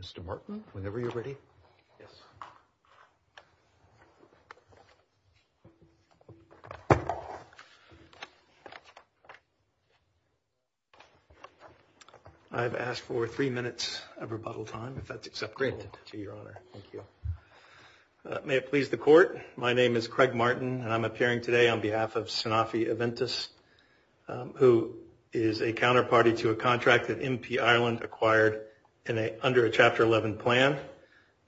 Mr. Martin, whenever you're ready. Yes. I've asked for three minutes of rebuttal time, if that's acceptable. Great. To your honor. Thank you. May it please the court, my name is Craig Martin, and I'm appearing today on behalf of Sanofi Aventis, who is a counterparty to a contract that MP Ireland acquired under a Chapter 11 plan.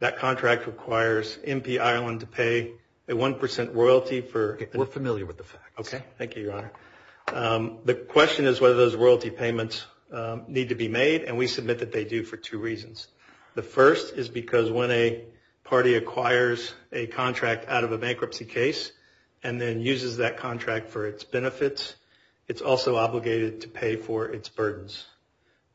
That contract requires MP Ireland to pay a one percent royalty for. We're familiar with the facts. Okay. Thank you, your honor. The question is whether those royalty payments need to be made, and we submit that they do for two reasons. The first is because when a party acquires a contract out of a bankruptcy case and then uses that contract for its benefits, it's also obligated to pay for its burdens.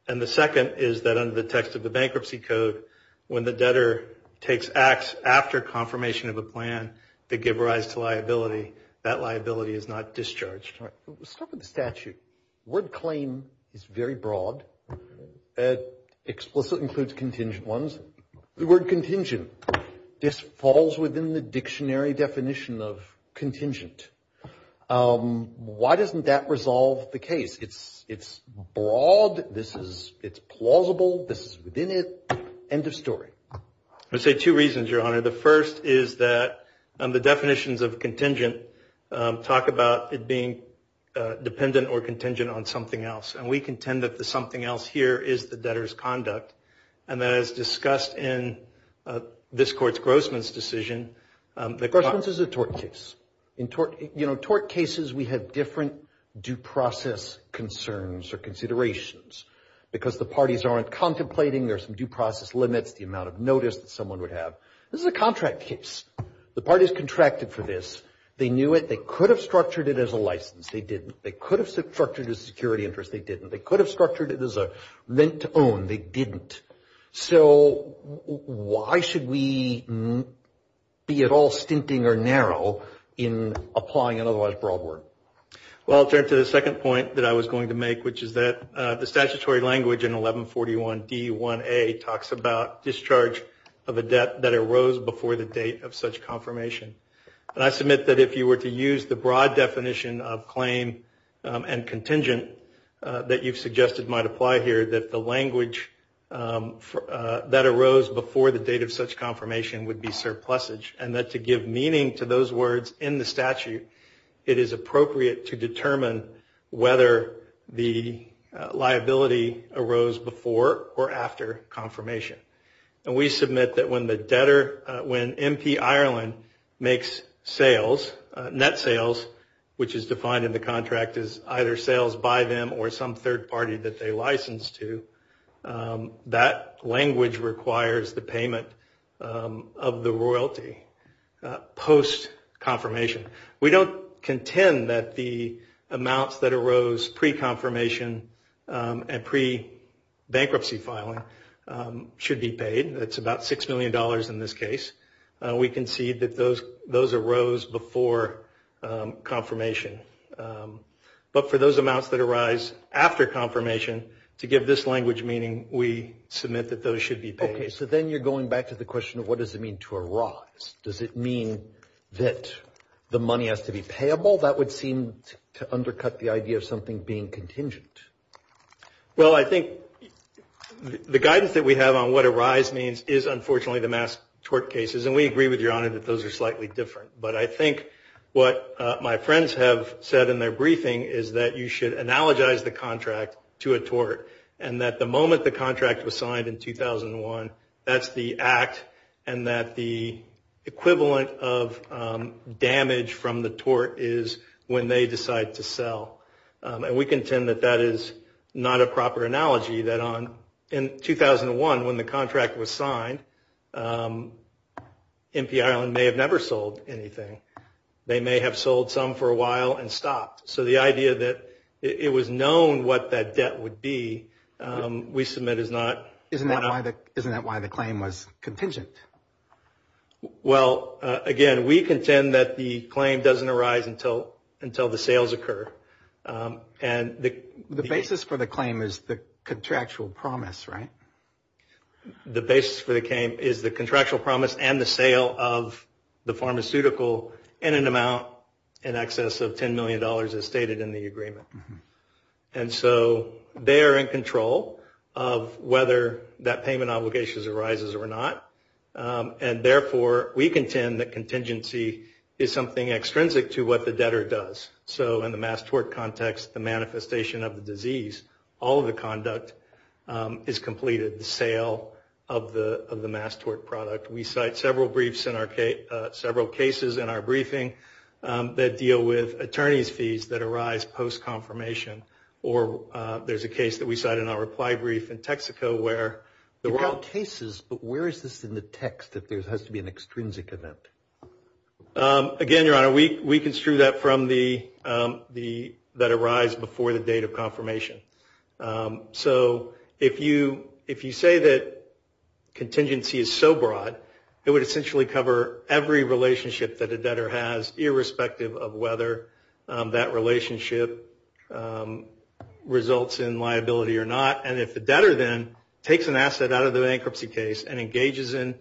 And the second is that under the text of the bankruptcy code, when the debtor takes acts after confirmation of a plan that give rise to liability, that liability is not discharged. All right. Let's start with the statute. The word claim is very broad. It explicitly includes contingent ones. The word contingent, this falls within the dictionary definition of contingent. Why doesn't that resolve the case? It's broad. This is plausible. This is within it. End of story. I would say two reasons, your honor. The first is that the definitions of contingent talk about it being dependent or contingent on something else, and we contend that the something else here is the debtor's conduct, and that is discussed in this court's Grossman's decision. Grossman's is a tort case. In tort cases, we have different due process concerns or considerations because the parties aren't contemplating their due process limits, the amount of notice that someone would have. This is a contract case. The parties contracted for this. They knew it. They could have structured it as a license. They didn't. They could have structured it as a security interest. They didn't. They could have structured it as a rent to own. They didn't. So why should we be at all stinting or narrow in applying an otherwise broad word? Well, I'll turn to the second point that I was going to make, which is that the statutory language in 1141D1A talks about discharge of a debt that arose before the date of such confirmation. And I submit that if you were to use the broad definition of claim and contingent that you've suggested might apply here, that the language that arose before the date of such confirmation would be surplusage and that to give meaning to those words in the statute, it is appropriate to determine whether the liability arose before or after confirmation. And we submit that when the debtor, when MP Ireland makes sales, net sales, which is defined in the contract as either sales by them or some third party that they license to, that language requires the payment of the royalty post-confirmation. We don't contend that the amounts that arose pre-confirmation and pre-bankruptcy filing should be paid. It's about $6 million in this case. We concede that those arose before confirmation. But for those amounts that arise after confirmation, to give this language meaning, we submit that those should be paid. Okay, so then you're going back to the question of what does it mean to arise? Does it mean that the money has to be payable? That would seem to undercut the idea of something being contingent. Well, I think the guidance that we have on what arise means is, unfortunately, the mass tort cases. And we agree with Your Honor that those are slightly different. But I think what my friends have said in their briefing is that you should analogize the contract to a tort and that the moment the contract was signed in 2001, that's the act, and that the equivalent of damage from the tort is when they decide to sell. And we contend that that is not a proper analogy, that in 2001, when the contract was signed, MPI may have never sold anything. They may have sold some for a while and stopped. So the idea that it was known what that debt would be, we submit is not. Isn't that why the claim was contingent? Well, again, we contend that the claim doesn't arise until the sales occur. And the basis for the claim is the contractual promise, right? The basis for the claim is the contractual promise and the sale of the pharmaceutical in an amount in excess of $10 million as stated in the agreement. And so they are in control of whether that payment obligation arises or not. And therefore, we contend that contingency is something extrinsic to what the debtor does. So in the mass tort context, the manifestation of the disease, all of the conduct is completed, the sale of the mass tort product. We cite several briefs in our case, several cases in our briefing that deal with attorney's fees that arise post-confirmation. Or there's a case that we cite in our reply brief in Texaco where there were all cases. But where is this in the text if there has to be an extrinsic event? Again, Your Honor, we construe that from that arise before the date of confirmation. So if you say that contingency is so broad, it would essentially cover every relationship that a debtor has, irrespective of whether that relationship results in liability or not. And if the debtor then takes an asset out of the bankruptcy case and engages in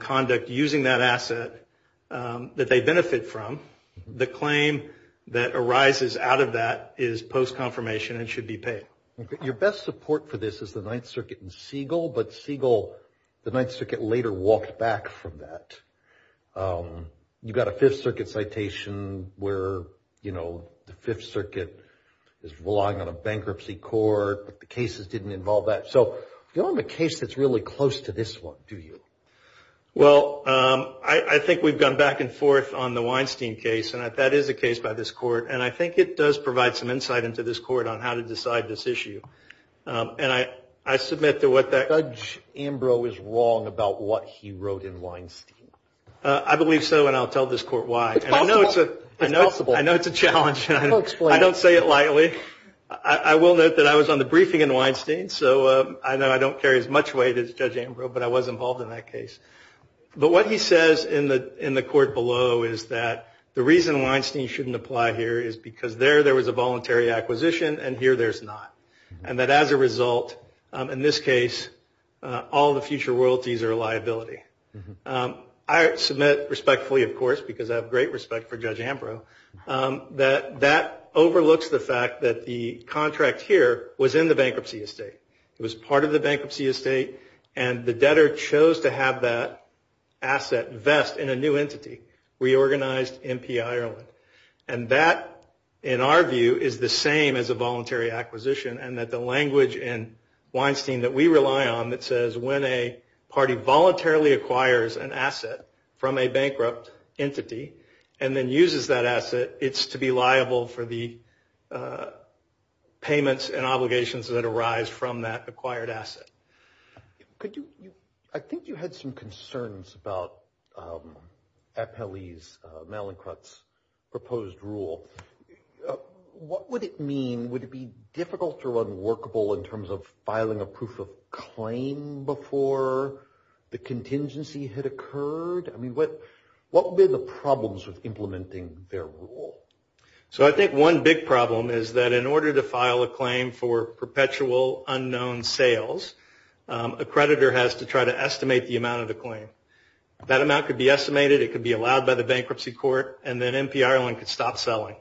conduct using that asset that they benefit from, the claim that arises out of that is post-confirmation and should be paid. Your best support for this is the Ninth Circuit and Siegel, but Siegel, the Ninth Circuit, later walked back from that. You've got a Fifth Circuit citation where, you know, the Fifth Circuit is relying on a bankruptcy court, but the cases didn't involve that. So you don't have a case that's really close to this one, do you? Well, I think we've gone back and forth on the Weinstein case, and that is a case by this Court, and I think it does provide some insight into this Court on how to decide this issue. And I submit to what that... Judge Ambrose is wrong about what he wrote in Weinstein. I believe so, and I'll tell this Court why. It's possible. I know it's a challenge. I don't say it lightly. I will note that I was on the briefing in Weinstein, so I know I don't carry as much weight as Judge Ambrose, but I was involved in that case. But what he says in the Court below is that the reason Weinstein shouldn't apply here is because there there was a voluntary acquisition, and here there's not, and that as a result, in this case, all the future royalties are a liability. I submit respectfully, of course, because I have great respect for Judge Ambrose, that that overlooks the fact that the contract here was in the bankruptcy estate. It was part of the bankruptcy estate, and the debtor chose to have that asset vest in a new entity, Reorganized MP Ireland. And that, in our view, is the same as a voluntary acquisition, and that the language in Weinstein that we rely on that says when a party voluntarily acquires an asset from a bankrupt entity and then uses that asset, it's to be liable for the payments and obligations that arise from that acquired asset. I think you had some concerns about Appellee's, Malincrut's proposed rule. What would it mean? Would it be difficult or unworkable in terms of filing a proof of claim before the contingency had occurred? I mean, what would be the problems with implementing their rule? So I think one big problem is that in order to file a claim for perpetual unknown sales, a creditor has to try to estimate the amount of the claim. That amount could be estimated. It could be allowed by the bankruptcy court, and then MP Ireland could stop selling.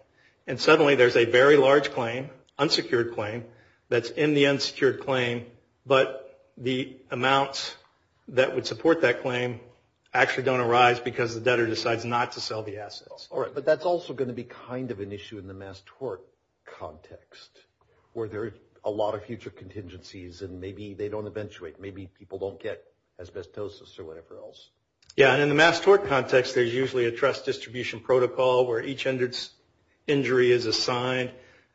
And suddenly there's a very large claim, unsecured claim, that's in the unsecured claim, but the amounts that would support that claim actually don't arise because the debtor decides not to sell the assets. All right. But that's also going to be kind of an issue in the mass tort context where there are a lot of future contingencies, and maybe they don't eventuate. Maybe people don't get asbestosis or whatever else. Yeah, and in the mass tort context, there's usually a trust distribution protocol where each injury is assigned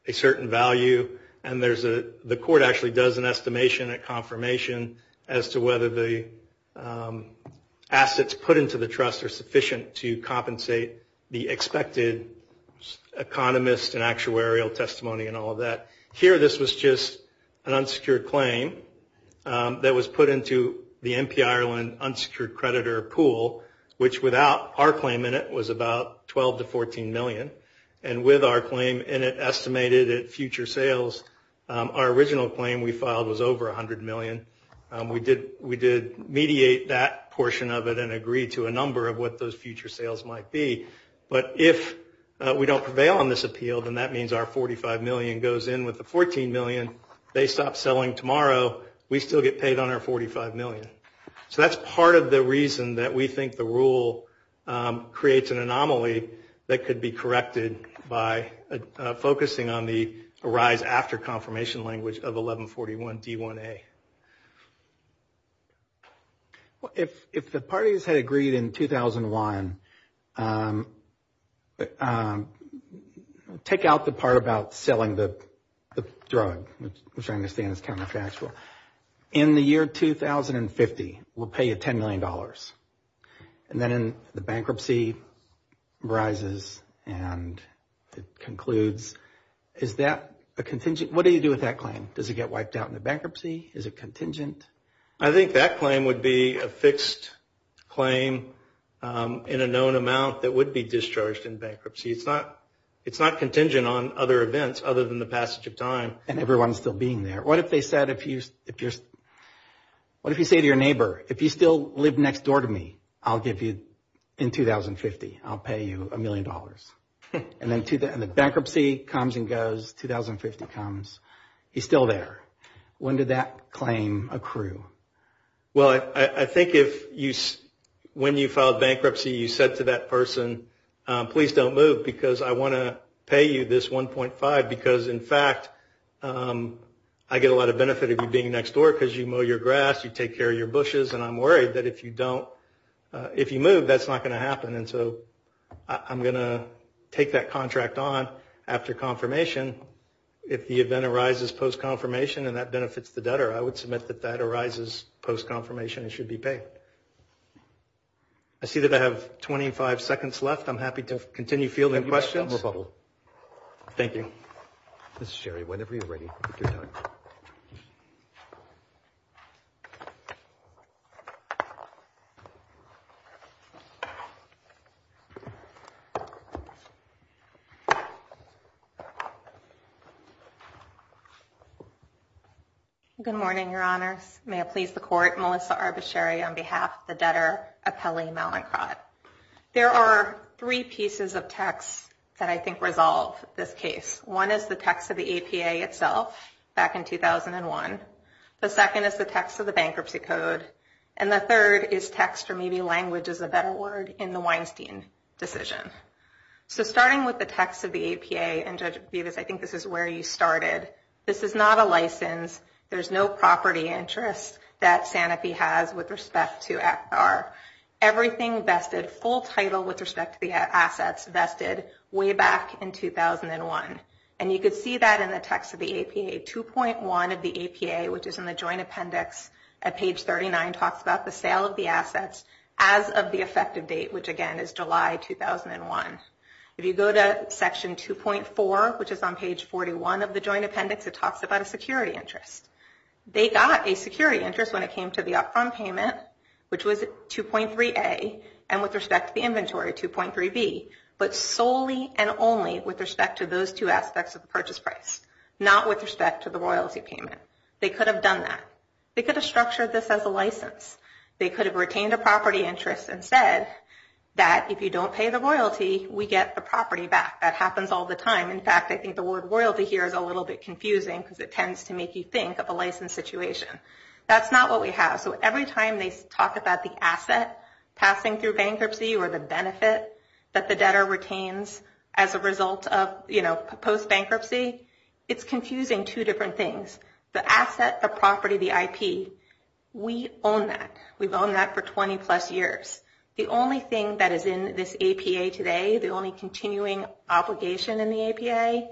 a certain value, and the court actually does an estimation, a confirmation, as to whether the assets put into the trust are sufficient to compensate the expected economist and actuarial testimony and all of that. Here this was just an unsecured claim that was put into the MP Ireland unsecured creditor pool, which without our claim in it was about $12 to $14 million. And with our claim in it estimated at future sales, our original claim we filed was over $100 million. We did mediate that portion of it and agreed to a number of what those future sales might be. But if we don't prevail on this appeal, then that means our $45 million goes in with the $14 million. They stop selling tomorrow. We still get paid on our $45 million. So that's part of the reason that we think the rule creates an anomaly that could be corrected by focusing on the arise after confirmation language of 1141 D1A. If the parties had agreed in 2001, take out the part about selling the drug, which I understand is counterfactual. In the year 2050, we'll pay you $10 million. And then the bankruptcy arises and it concludes. Is that a contingent? What do you do with that claim? Does it get wiped out in the bankruptcy? Is it contingent? I think that claim would be a fixed claim in a known amount that would be discharged in bankruptcy. It's not contingent on other events other than the passage of time. And everyone's still being there. What if they said if you're, what if you say to your neighbor, if you still live next door to me, I'll give you, in 2050, I'll pay you $1 million. And then the bankruptcy comes and goes. 2050 comes. He's still there. When did that claim accrue? Well, I think if you, when you filed bankruptcy, you said to that person, please don't move because I want to pay you this 1.5 because, in fact, I get a lot of benefit of you being next door because you mow your grass, you take care of your bushes, and I'm worried that if you don't, if you move, that's not going to happen. And so I'm going to take that contract on after confirmation. If the event arises post-confirmation and that benefits the debtor, I would submit that that arises post-confirmation and should be paid. I see that I have 25 seconds left. I'm happy to continue fielding questions. Thank you. Ms. Sherry, whenever you're ready, if you're done. Good morning, Your Honors. May it please the Court, Melissa Arbasheri on behalf of the Debtor Appellee Mallinckrodt. There are three pieces of text that I think resolve this case. One is the text of the APA itself back in 2001. The second is the text of the bankruptcy code. And the third is text or maybe language is a better word in the Weinstein decision. So starting with the text of the APA, and, Judge Bevis, I think this is where you started. This is not a license. There's no property interest that Sanofi has with respect to ACAR. Everything vested, full title with respect to the assets, vested way back in 2001. And you could see that in the text of the APA. 2.1 of the APA, which is in the joint appendix at page 39, talks about the sale of the assets as of the effective date, which, again, is July 2001. If you go to section 2.4, which is on page 41 of the joint appendix, it talks about a security interest. They got a security interest when it came to the upfront payment, which was 2.3A, and with respect to the inventory, 2.3B, but solely and only with respect to those two aspects of the purchase price, not with respect to the royalty payment. They could have done that. They could have structured this as a license. They could have retained a property interest and said that if you don't pay the royalty, we get the property back. That happens all the time. In fact, I think the word royalty here is a little bit confusing because it tends to make you think of a license situation. That's not what we have. So every time they talk about the asset passing through bankruptcy or the benefit that the debtor retains as a result of post-bankruptcy, it's confusing two different things. The asset, the property, the IP, we own that. We've owned that for 20-plus years. The only thing that is in this APA today, the only continuing obligation in the APA,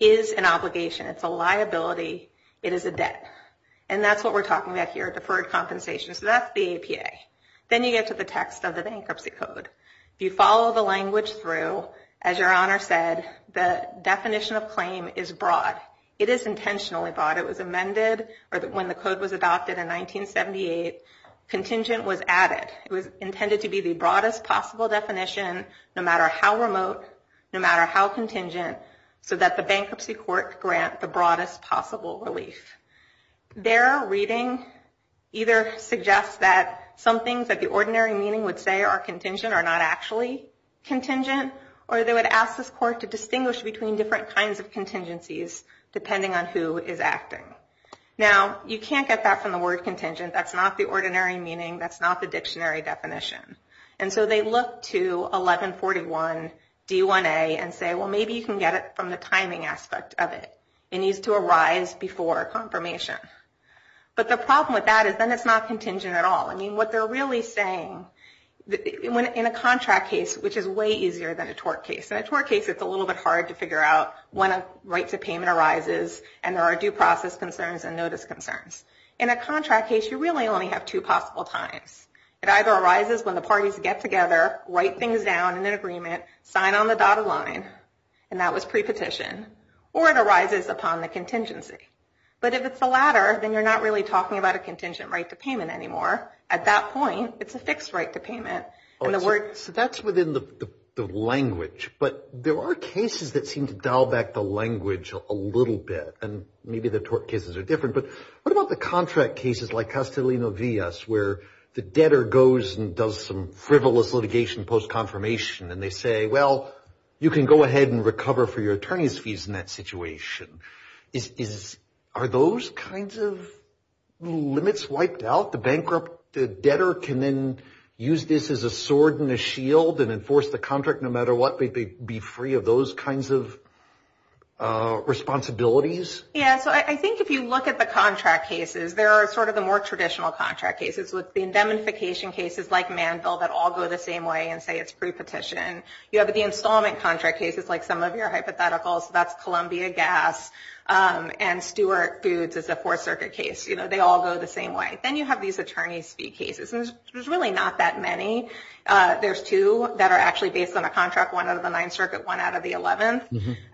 is an obligation. It's a liability. It is a debt. And that's what we're talking about here, deferred compensation. So that's the APA. Then you get to the text of the bankruptcy code. If you follow the language through, as Your Honor said, the definition of claim is broad. It is intentionally broad. It was amended when the code was adopted in 1978. Contingent was added. It was intended to be the broadest possible definition, no matter how remote, no matter how contingent, so that the bankruptcy court grant the broadest possible relief. Their reading either suggests that some things that the ordinary meaning would say are contingent are not actually contingent, or they would ask this court to distinguish between different kinds of contingencies depending on who is acting. Now, you can't get that from the word contingent. That's not the ordinary meaning. That's not the dictionary definition. And so they look to 1141 D1A and say, well, maybe you can get it from the timing aspect of it. It needs to arise before confirmation. But the problem with that is then it's not contingent at all. I mean, what they're really saying, in a contract case, which is way easier than a tort case. In a tort case, it's a little bit hard to figure out when a right to payment arises and there are due process concerns and notice concerns. In a contract case, you really only have two possible times. It either arises when the parties get together, write things down in an agreement, sign on the dotted line, and that was pre-petition, or it arises upon the contingency. But if it's the latter, then you're not really talking about a contingent right to payment anymore. At that point, it's a fixed right to payment. So that's within the language. But there are cases that seem to dial back the language a little bit, and maybe the tort cases are different. But what about the contract cases like Castellino-Villas where the debtor goes and does some frivolous litigation post-confirmation and they say, well, you can go ahead and recover for your attorney's fees in that situation. Are those kinds of limits wiped out? The bankrupt debtor can then use this as a sword and a shield and enforce the contract no matter what. They'd be free of those kinds of responsibilities? Yeah. So I think if you look at the contract cases, there are sort of the more traditional contract cases with the indemnification cases like Manville that all go the same way and say it's pre-petition. You have the installment contract cases like some of your hypotheticals. That's Columbia Gas and Stewart Foods is a Fourth Circuit case. They all go the same way. Then you have these attorney's fee cases, and there's really not that many. There's two that are actually based on a contract, one out of the Ninth Circuit, one out of the Eleventh.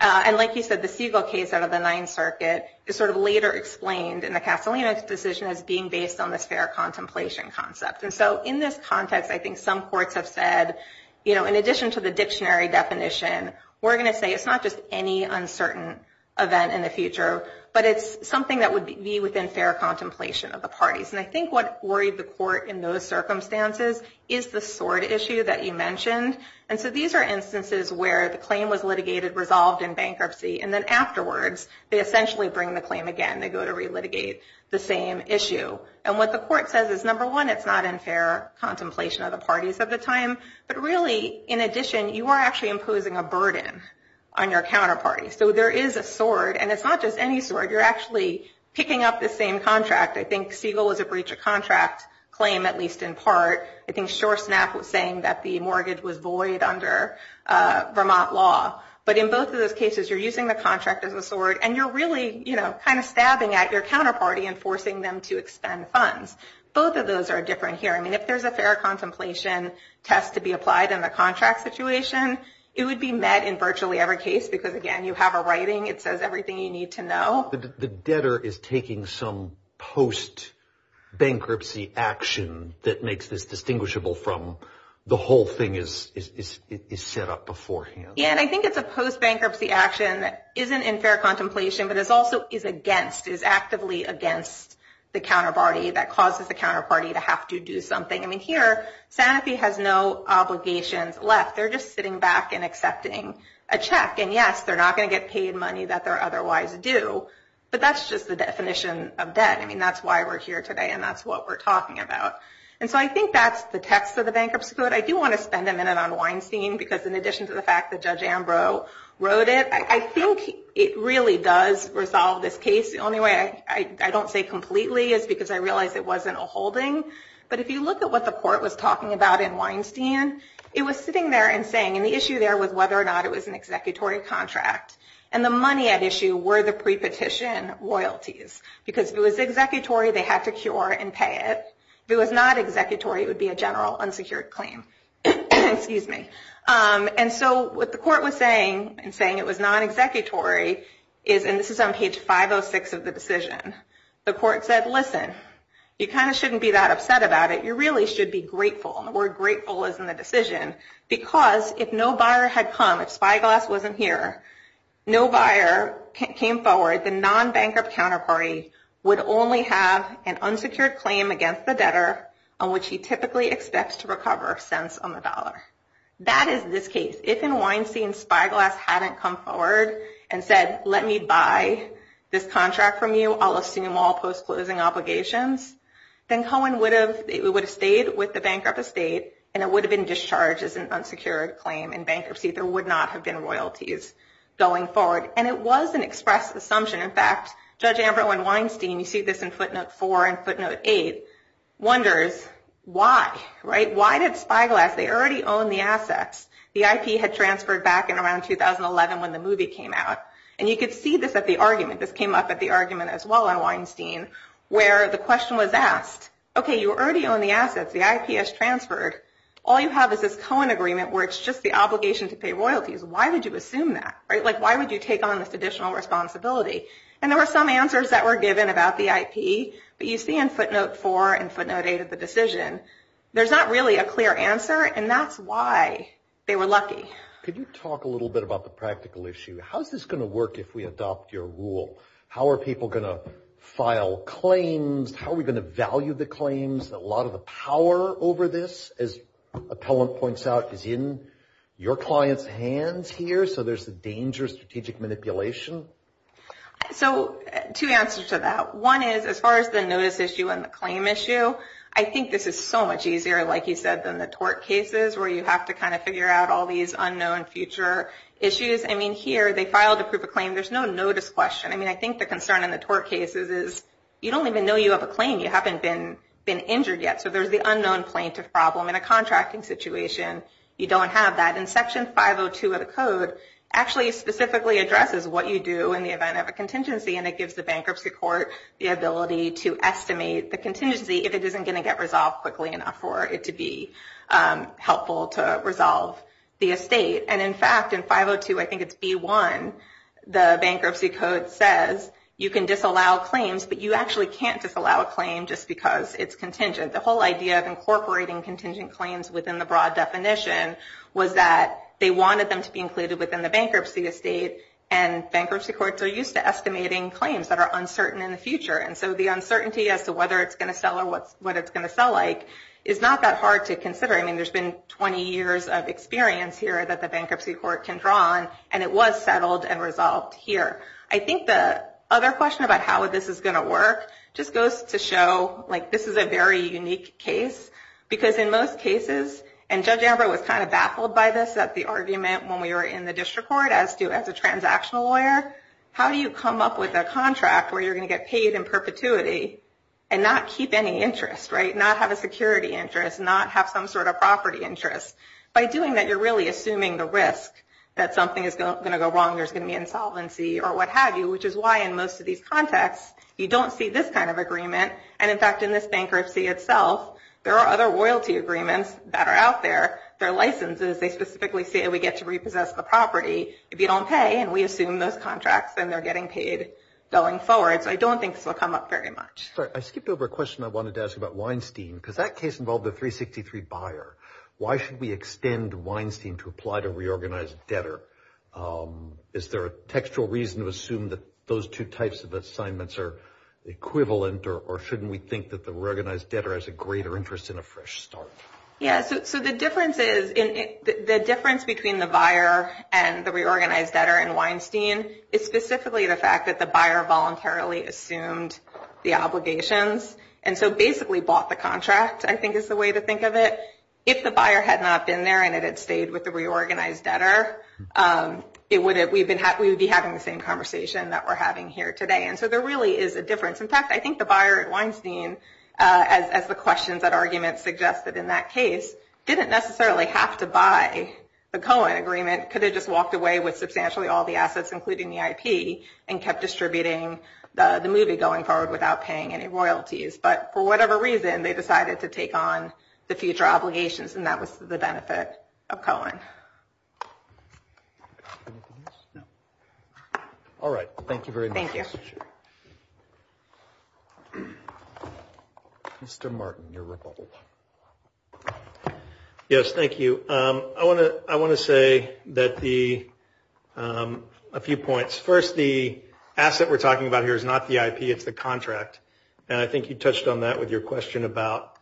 And like you said, the Siegel case out of the Ninth Circuit is sort of later explained in the Castellino decision as being based on this fair contemplation concept. And so in this context, I think some courts have said, you know, in addition to the dictionary definition, we're going to say it's not just any uncertain event in the future, but it's something that would be within fair contemplation of the parties. And I think what worried the court in those circumstances is the sword issue that you mentioned. And so these are instances where the claim was litigated, resolved in bankruptcy, and then afterwards, they essentially bring the claim again. They go to relitigate the same issue. And what the court says is, number one, it's not in fair contemplation of the parties of the time. But really, in addition, you are actually imposing a burden on your counterparty. So there is a sword, and it's not just any sword. You're actually picking up the same contract. I think Siegel was a breach of contract claim, at least in part. I think Shoresnap was saying that the mortgage was void under Vermont law. But in both of those cases, you're using the contract as a sword, and you're really, you know, kind of stabbing at your counterparty and forcing them to expend funds. Both of those are different here. I mean, if there's a fair contemplation test to be applied in the contract situation, it would be met in virtually every case because, again, you have a writing. It says everything you need to know. The debtor is taking some post-bankruptcy action that makes this distinguishable from the whole thing is set up beforehand. Yeah, and I think it's a post-bankruptcy action that isn't in fair contemplation but is also is against, is actively against the counterparty that causes the counterparty to have to do something. I mean, here, Sanofi has no obligations left. They're just sitting back and accepting a check. And, yes, they're not going to get paid money that they're otherwise due, but that's just the definition of debt. I mean, that's why we're here today, and that's what we're talking about. And so I think that's the text of the Bankruptcy Code. I do want to spend a minute on Weinstein because, in addition to the fact that Judge Ambrose wrote it, I think it really does resolve this case. The only way I don't say completely is because I realize it wasn't a holding. But if you look at what the court was talking about in Weinstein, it was sitting there and saying, and the issue there was whether or not it was an executory contract, and the money at issue were the prepetition royalties. Because if it was executory, they had to cure and pay it. If it was not executory, it would be a general unsecured claim. Excuse me. And so what the court was saying, and saying it was non-executory, and this is on page 506 of the decision, the court said, listen, you kind of shouldn't be that upset about it. You really should be grateful. And the word grateful is in the decision because if no buyer had come, if Spyglass wasn't here, no buyer came forward, the non-bankrupt counterparty would only have an unsecured claim against the debtor on which he typically expects to recover cents on the dollar. That is this case. If in Weinstein Spyglass hadn't come forward and said, let me buy this contract from you, I'll assume all post-closing obligations, then Cohen would have stayed with the bankrupt estate, and it would have been discharged as an unsecured claim in bankruptcy. There would not have been royalties going forward. And it was an express assumption. In fact, Judge Ambro and Weinstein, you see this in footnote 4 and footnote 8, wonders why. Why did Spyglass, they already own the assets. The IP had transferred back in around 2011 when the movie came out. And you could see this at the argument. This came up at the argument as well on Weinstein where the question was asked, okay, you already own the assets. The IP has transferred. All you have is this Cohen agreement where it's just the obligation to pay royalties. Why would you assume that? Why would you take on this additional responsibility? And there were some answers that were given about the IP, but you see in footnote 4 and footnote 8 of the decision. There's not really a clear answer, and that's why they were lucky. Could you talk a little bit about the practical issue? How is this going to work if we adopt your rule? How are people going to file claims? How are we going to value the claims? A lot of the power over this, as Appellant points out, is in your clients' hands here, so there's a danger of strategic manipulation. So two answers to that. One is as far as the notice issue and the claim issue, I think this is so much easier, like you said, than the tort cases where you have to kind of figure out all these unknown future issues. I mean, here they filed a proof of claim. There's no notice question. I mean, I think the concern in the tort cases is you don't even know you have a claim. You haven't been injured yet, so there's the unknown plaintiff problem. In a contracting situation, you don't have that. And Section 502 of the code actually specifically addresses what you do in the event of a contingency, and it gives the bankruptcy court the ability to estimate the contingency if it isn't going to get resolved quickly enough for it to be helpful to resolve the estate. And, in fact, in 502, I think it's B1, the bankruptcy code says you can disallow claims, but you actually can't disallow a claim just because it's contingent. The whole idea of incorporating contingent claims within the broad definition was that they wanted them to be included within the bankruptcy estate, and bankruptcy courts are used to estimating claims that are uncertain in the future, and so the uncertainty as to whether it's going to sell or what it's going to sell like is not that hard to consider. I mean, there's been 20 years of experience here that the bankruptcy court can draw on, and it was settled and resolved here. I think the other question about how this is going to work just goes to show, like, this is a very unique case because in most cases, and Judge Amber was kind of baffled by this at the argument when we were in the district court as to as a transactional lawyer, how do you come up with a contract where you're going to get paid in perpetuity and not keep any interest, right, not have a security interest, not have some sort of property interest? By doing that, you're really assuming the risk that something is going to go wrong, there's going to be insolvency or what have you, which is why in most of these contexts, you don't see this kind of agreement, and, in fact, in this bankruptcy itself, there are other royalty agreements that are out there. Their licenses, they specifically say we get to repossess the property if you don't pay, and we assume those contracts, and they're getting paid going forward. So I don't think this will come up very much. Sorry, I skipped over a question I wanted to ask about Weinstein. Because that case involved a 363 buyer. Why should we extend Weinstein to apply to reorganized debtor? Is there a textual reason to assume that those two types of assignments are equivalent, or shouldn't we think that the reorganized debtor has a greater interest in a fresh start? Yeah, so the difference between the buyer and the reorganized debtor in Weinstein is specifically the fact that the buyer voluntarily assumed the obligations, and so basically bought the contract, I think, is the way to think of it. If the buyer had not been there and it had stayed with the reorganized debtor, we would be having the same conversation that we're having here today. And so there really is a difference. In fact, I think the buyer at Weinstein, as the questions and arguments suggested in that case, didn't necessarily have to buy the Cohen agreement. Could have just walked away with substantially all the assets, including the IP, and kept distributing the movie going forward without paying any royalties. But for whatever reason, they decided to take on the future obligations, and that was to the benefit of Cohen. All right. Thank you very much. Thank you. Mr. Martin, your rebuttal. Yes, thank you. I want to say a few points. First, the asset we're talking about here is not the IP, it's the contract, and I think you touched on that with your question about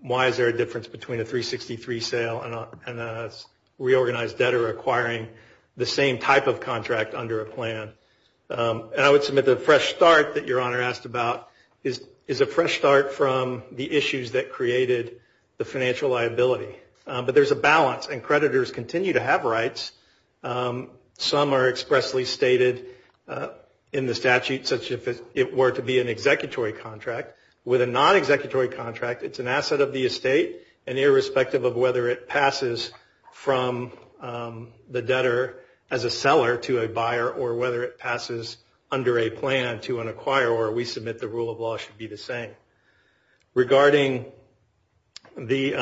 why is there a difference between a 363 sale and a reorganized debtor acquiring the same type of contract under a plan. And I would submit the fresh start that your Honor asked about is a fresh start from the issues that created the financial liability. But there's a balance, and creditors continue to have rights. Some are expressly stated in the statute such as if it were to be an executory contract. With a non-executory contract, it's an asset of the estate, and irrespective of whether it passes from the debtor as a seller to a buyer, or whether it passes under a plan to an acquirer, or we submit the rule of law should be the same. Regarding the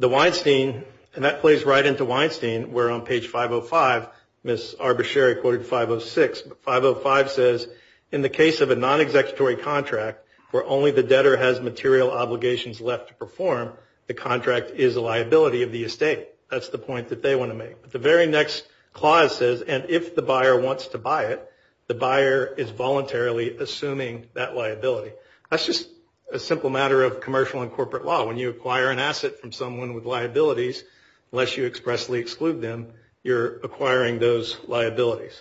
Weinstein, and that plays right into Weinstein, where on page 505, Ms. Arbuscheri quoted 506. But 505 says, in the case of a non-executory contract, where only the debtor has material obligations left to perform, the contract is a liability of the estate. That's the point that they want to make. But the very next clause says, and if the buyer wants to buy it, the buyer is voluntarily assuming that liability. That's just a simple matter of commercial and corporate law. When you acquire an asset from someone with liabilities, unless you expressly exclude them, you're acquiring those liabilities.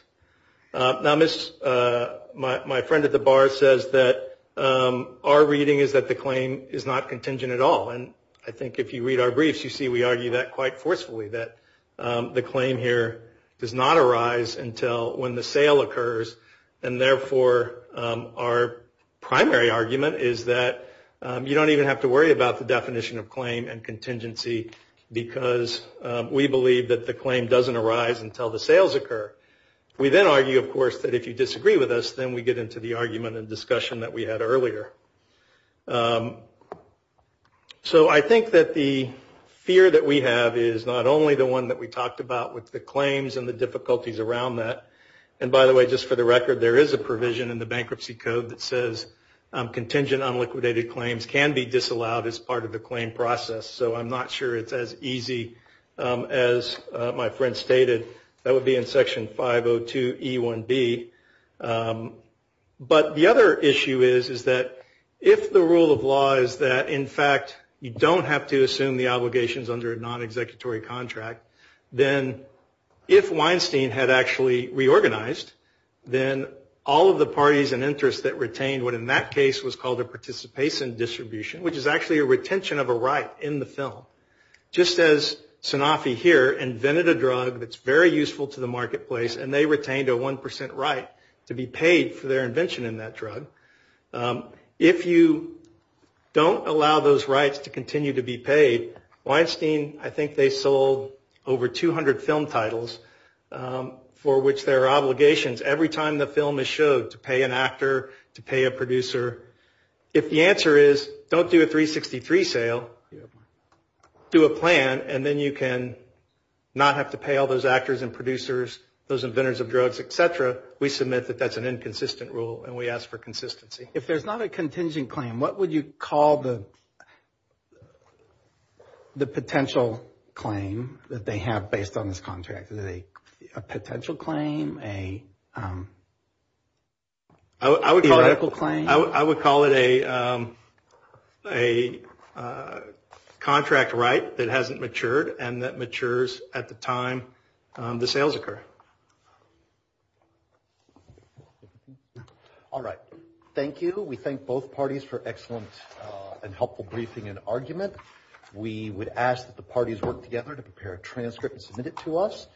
Now, my friend at the bar says that our reading is that the claim is not contingent at all. And I think if you read our briefs, you see we argue that quite forcefully, that the claim here does not arise until when the sale occurs, and therefore our primary argument is that you don't even have to worry about the definition of claim and contingency because we believe that the claim doesn't arise until the sales occur. We then argue, of course, that if you disagree with us, then we get into the argument and discussion that we had earlier. So I think that the fear that we have is not only the one that we talked about with the claims and the difficulties around that. And, by the way, just for the record, there is a provision in the Bankruptcy Code that says contingent, can be disallowed as part of the claim process. So I'm not sure it's as easy as my friend stated. That would be in Section 502E1B. But the other issue is that if the rule of law is that, in fact, you don't have to assume the obligations under a non-executory contract, then if Weinstein had actually reorganized, then all of the parties and interests that retained what, in that case, was called a participation distribution, which is actually a retention of a right in the film, just as Sanofi here invented a drug that's very useful to the marketplace and they retained a 1% right to be paid for their invention in that drug. If you don't allow those rights to continue to be paid, Weinstein, I think they sold over 200 film titles for which there are obligations every time the film is showed to pay an actor, to pay a producer. If the answer is don't do a 363 sale, do a plan, and then you can not have to pay all those actors and producers, those inventors of drugs, et cetera, we submit that that's an inconsistent rule and we ask for consistency. If there's not a contingent claim, what would you call the potential claim that they have based on this contract? A potential claim, a theoretical claim? I would call it a contract right that hasn't matured and that matures at the time the sales occur. All right. Thank you. We thank both parties for excellent and helpful briefing and argument. We would ask that the parties work together to prepare a transcript and submit it to us.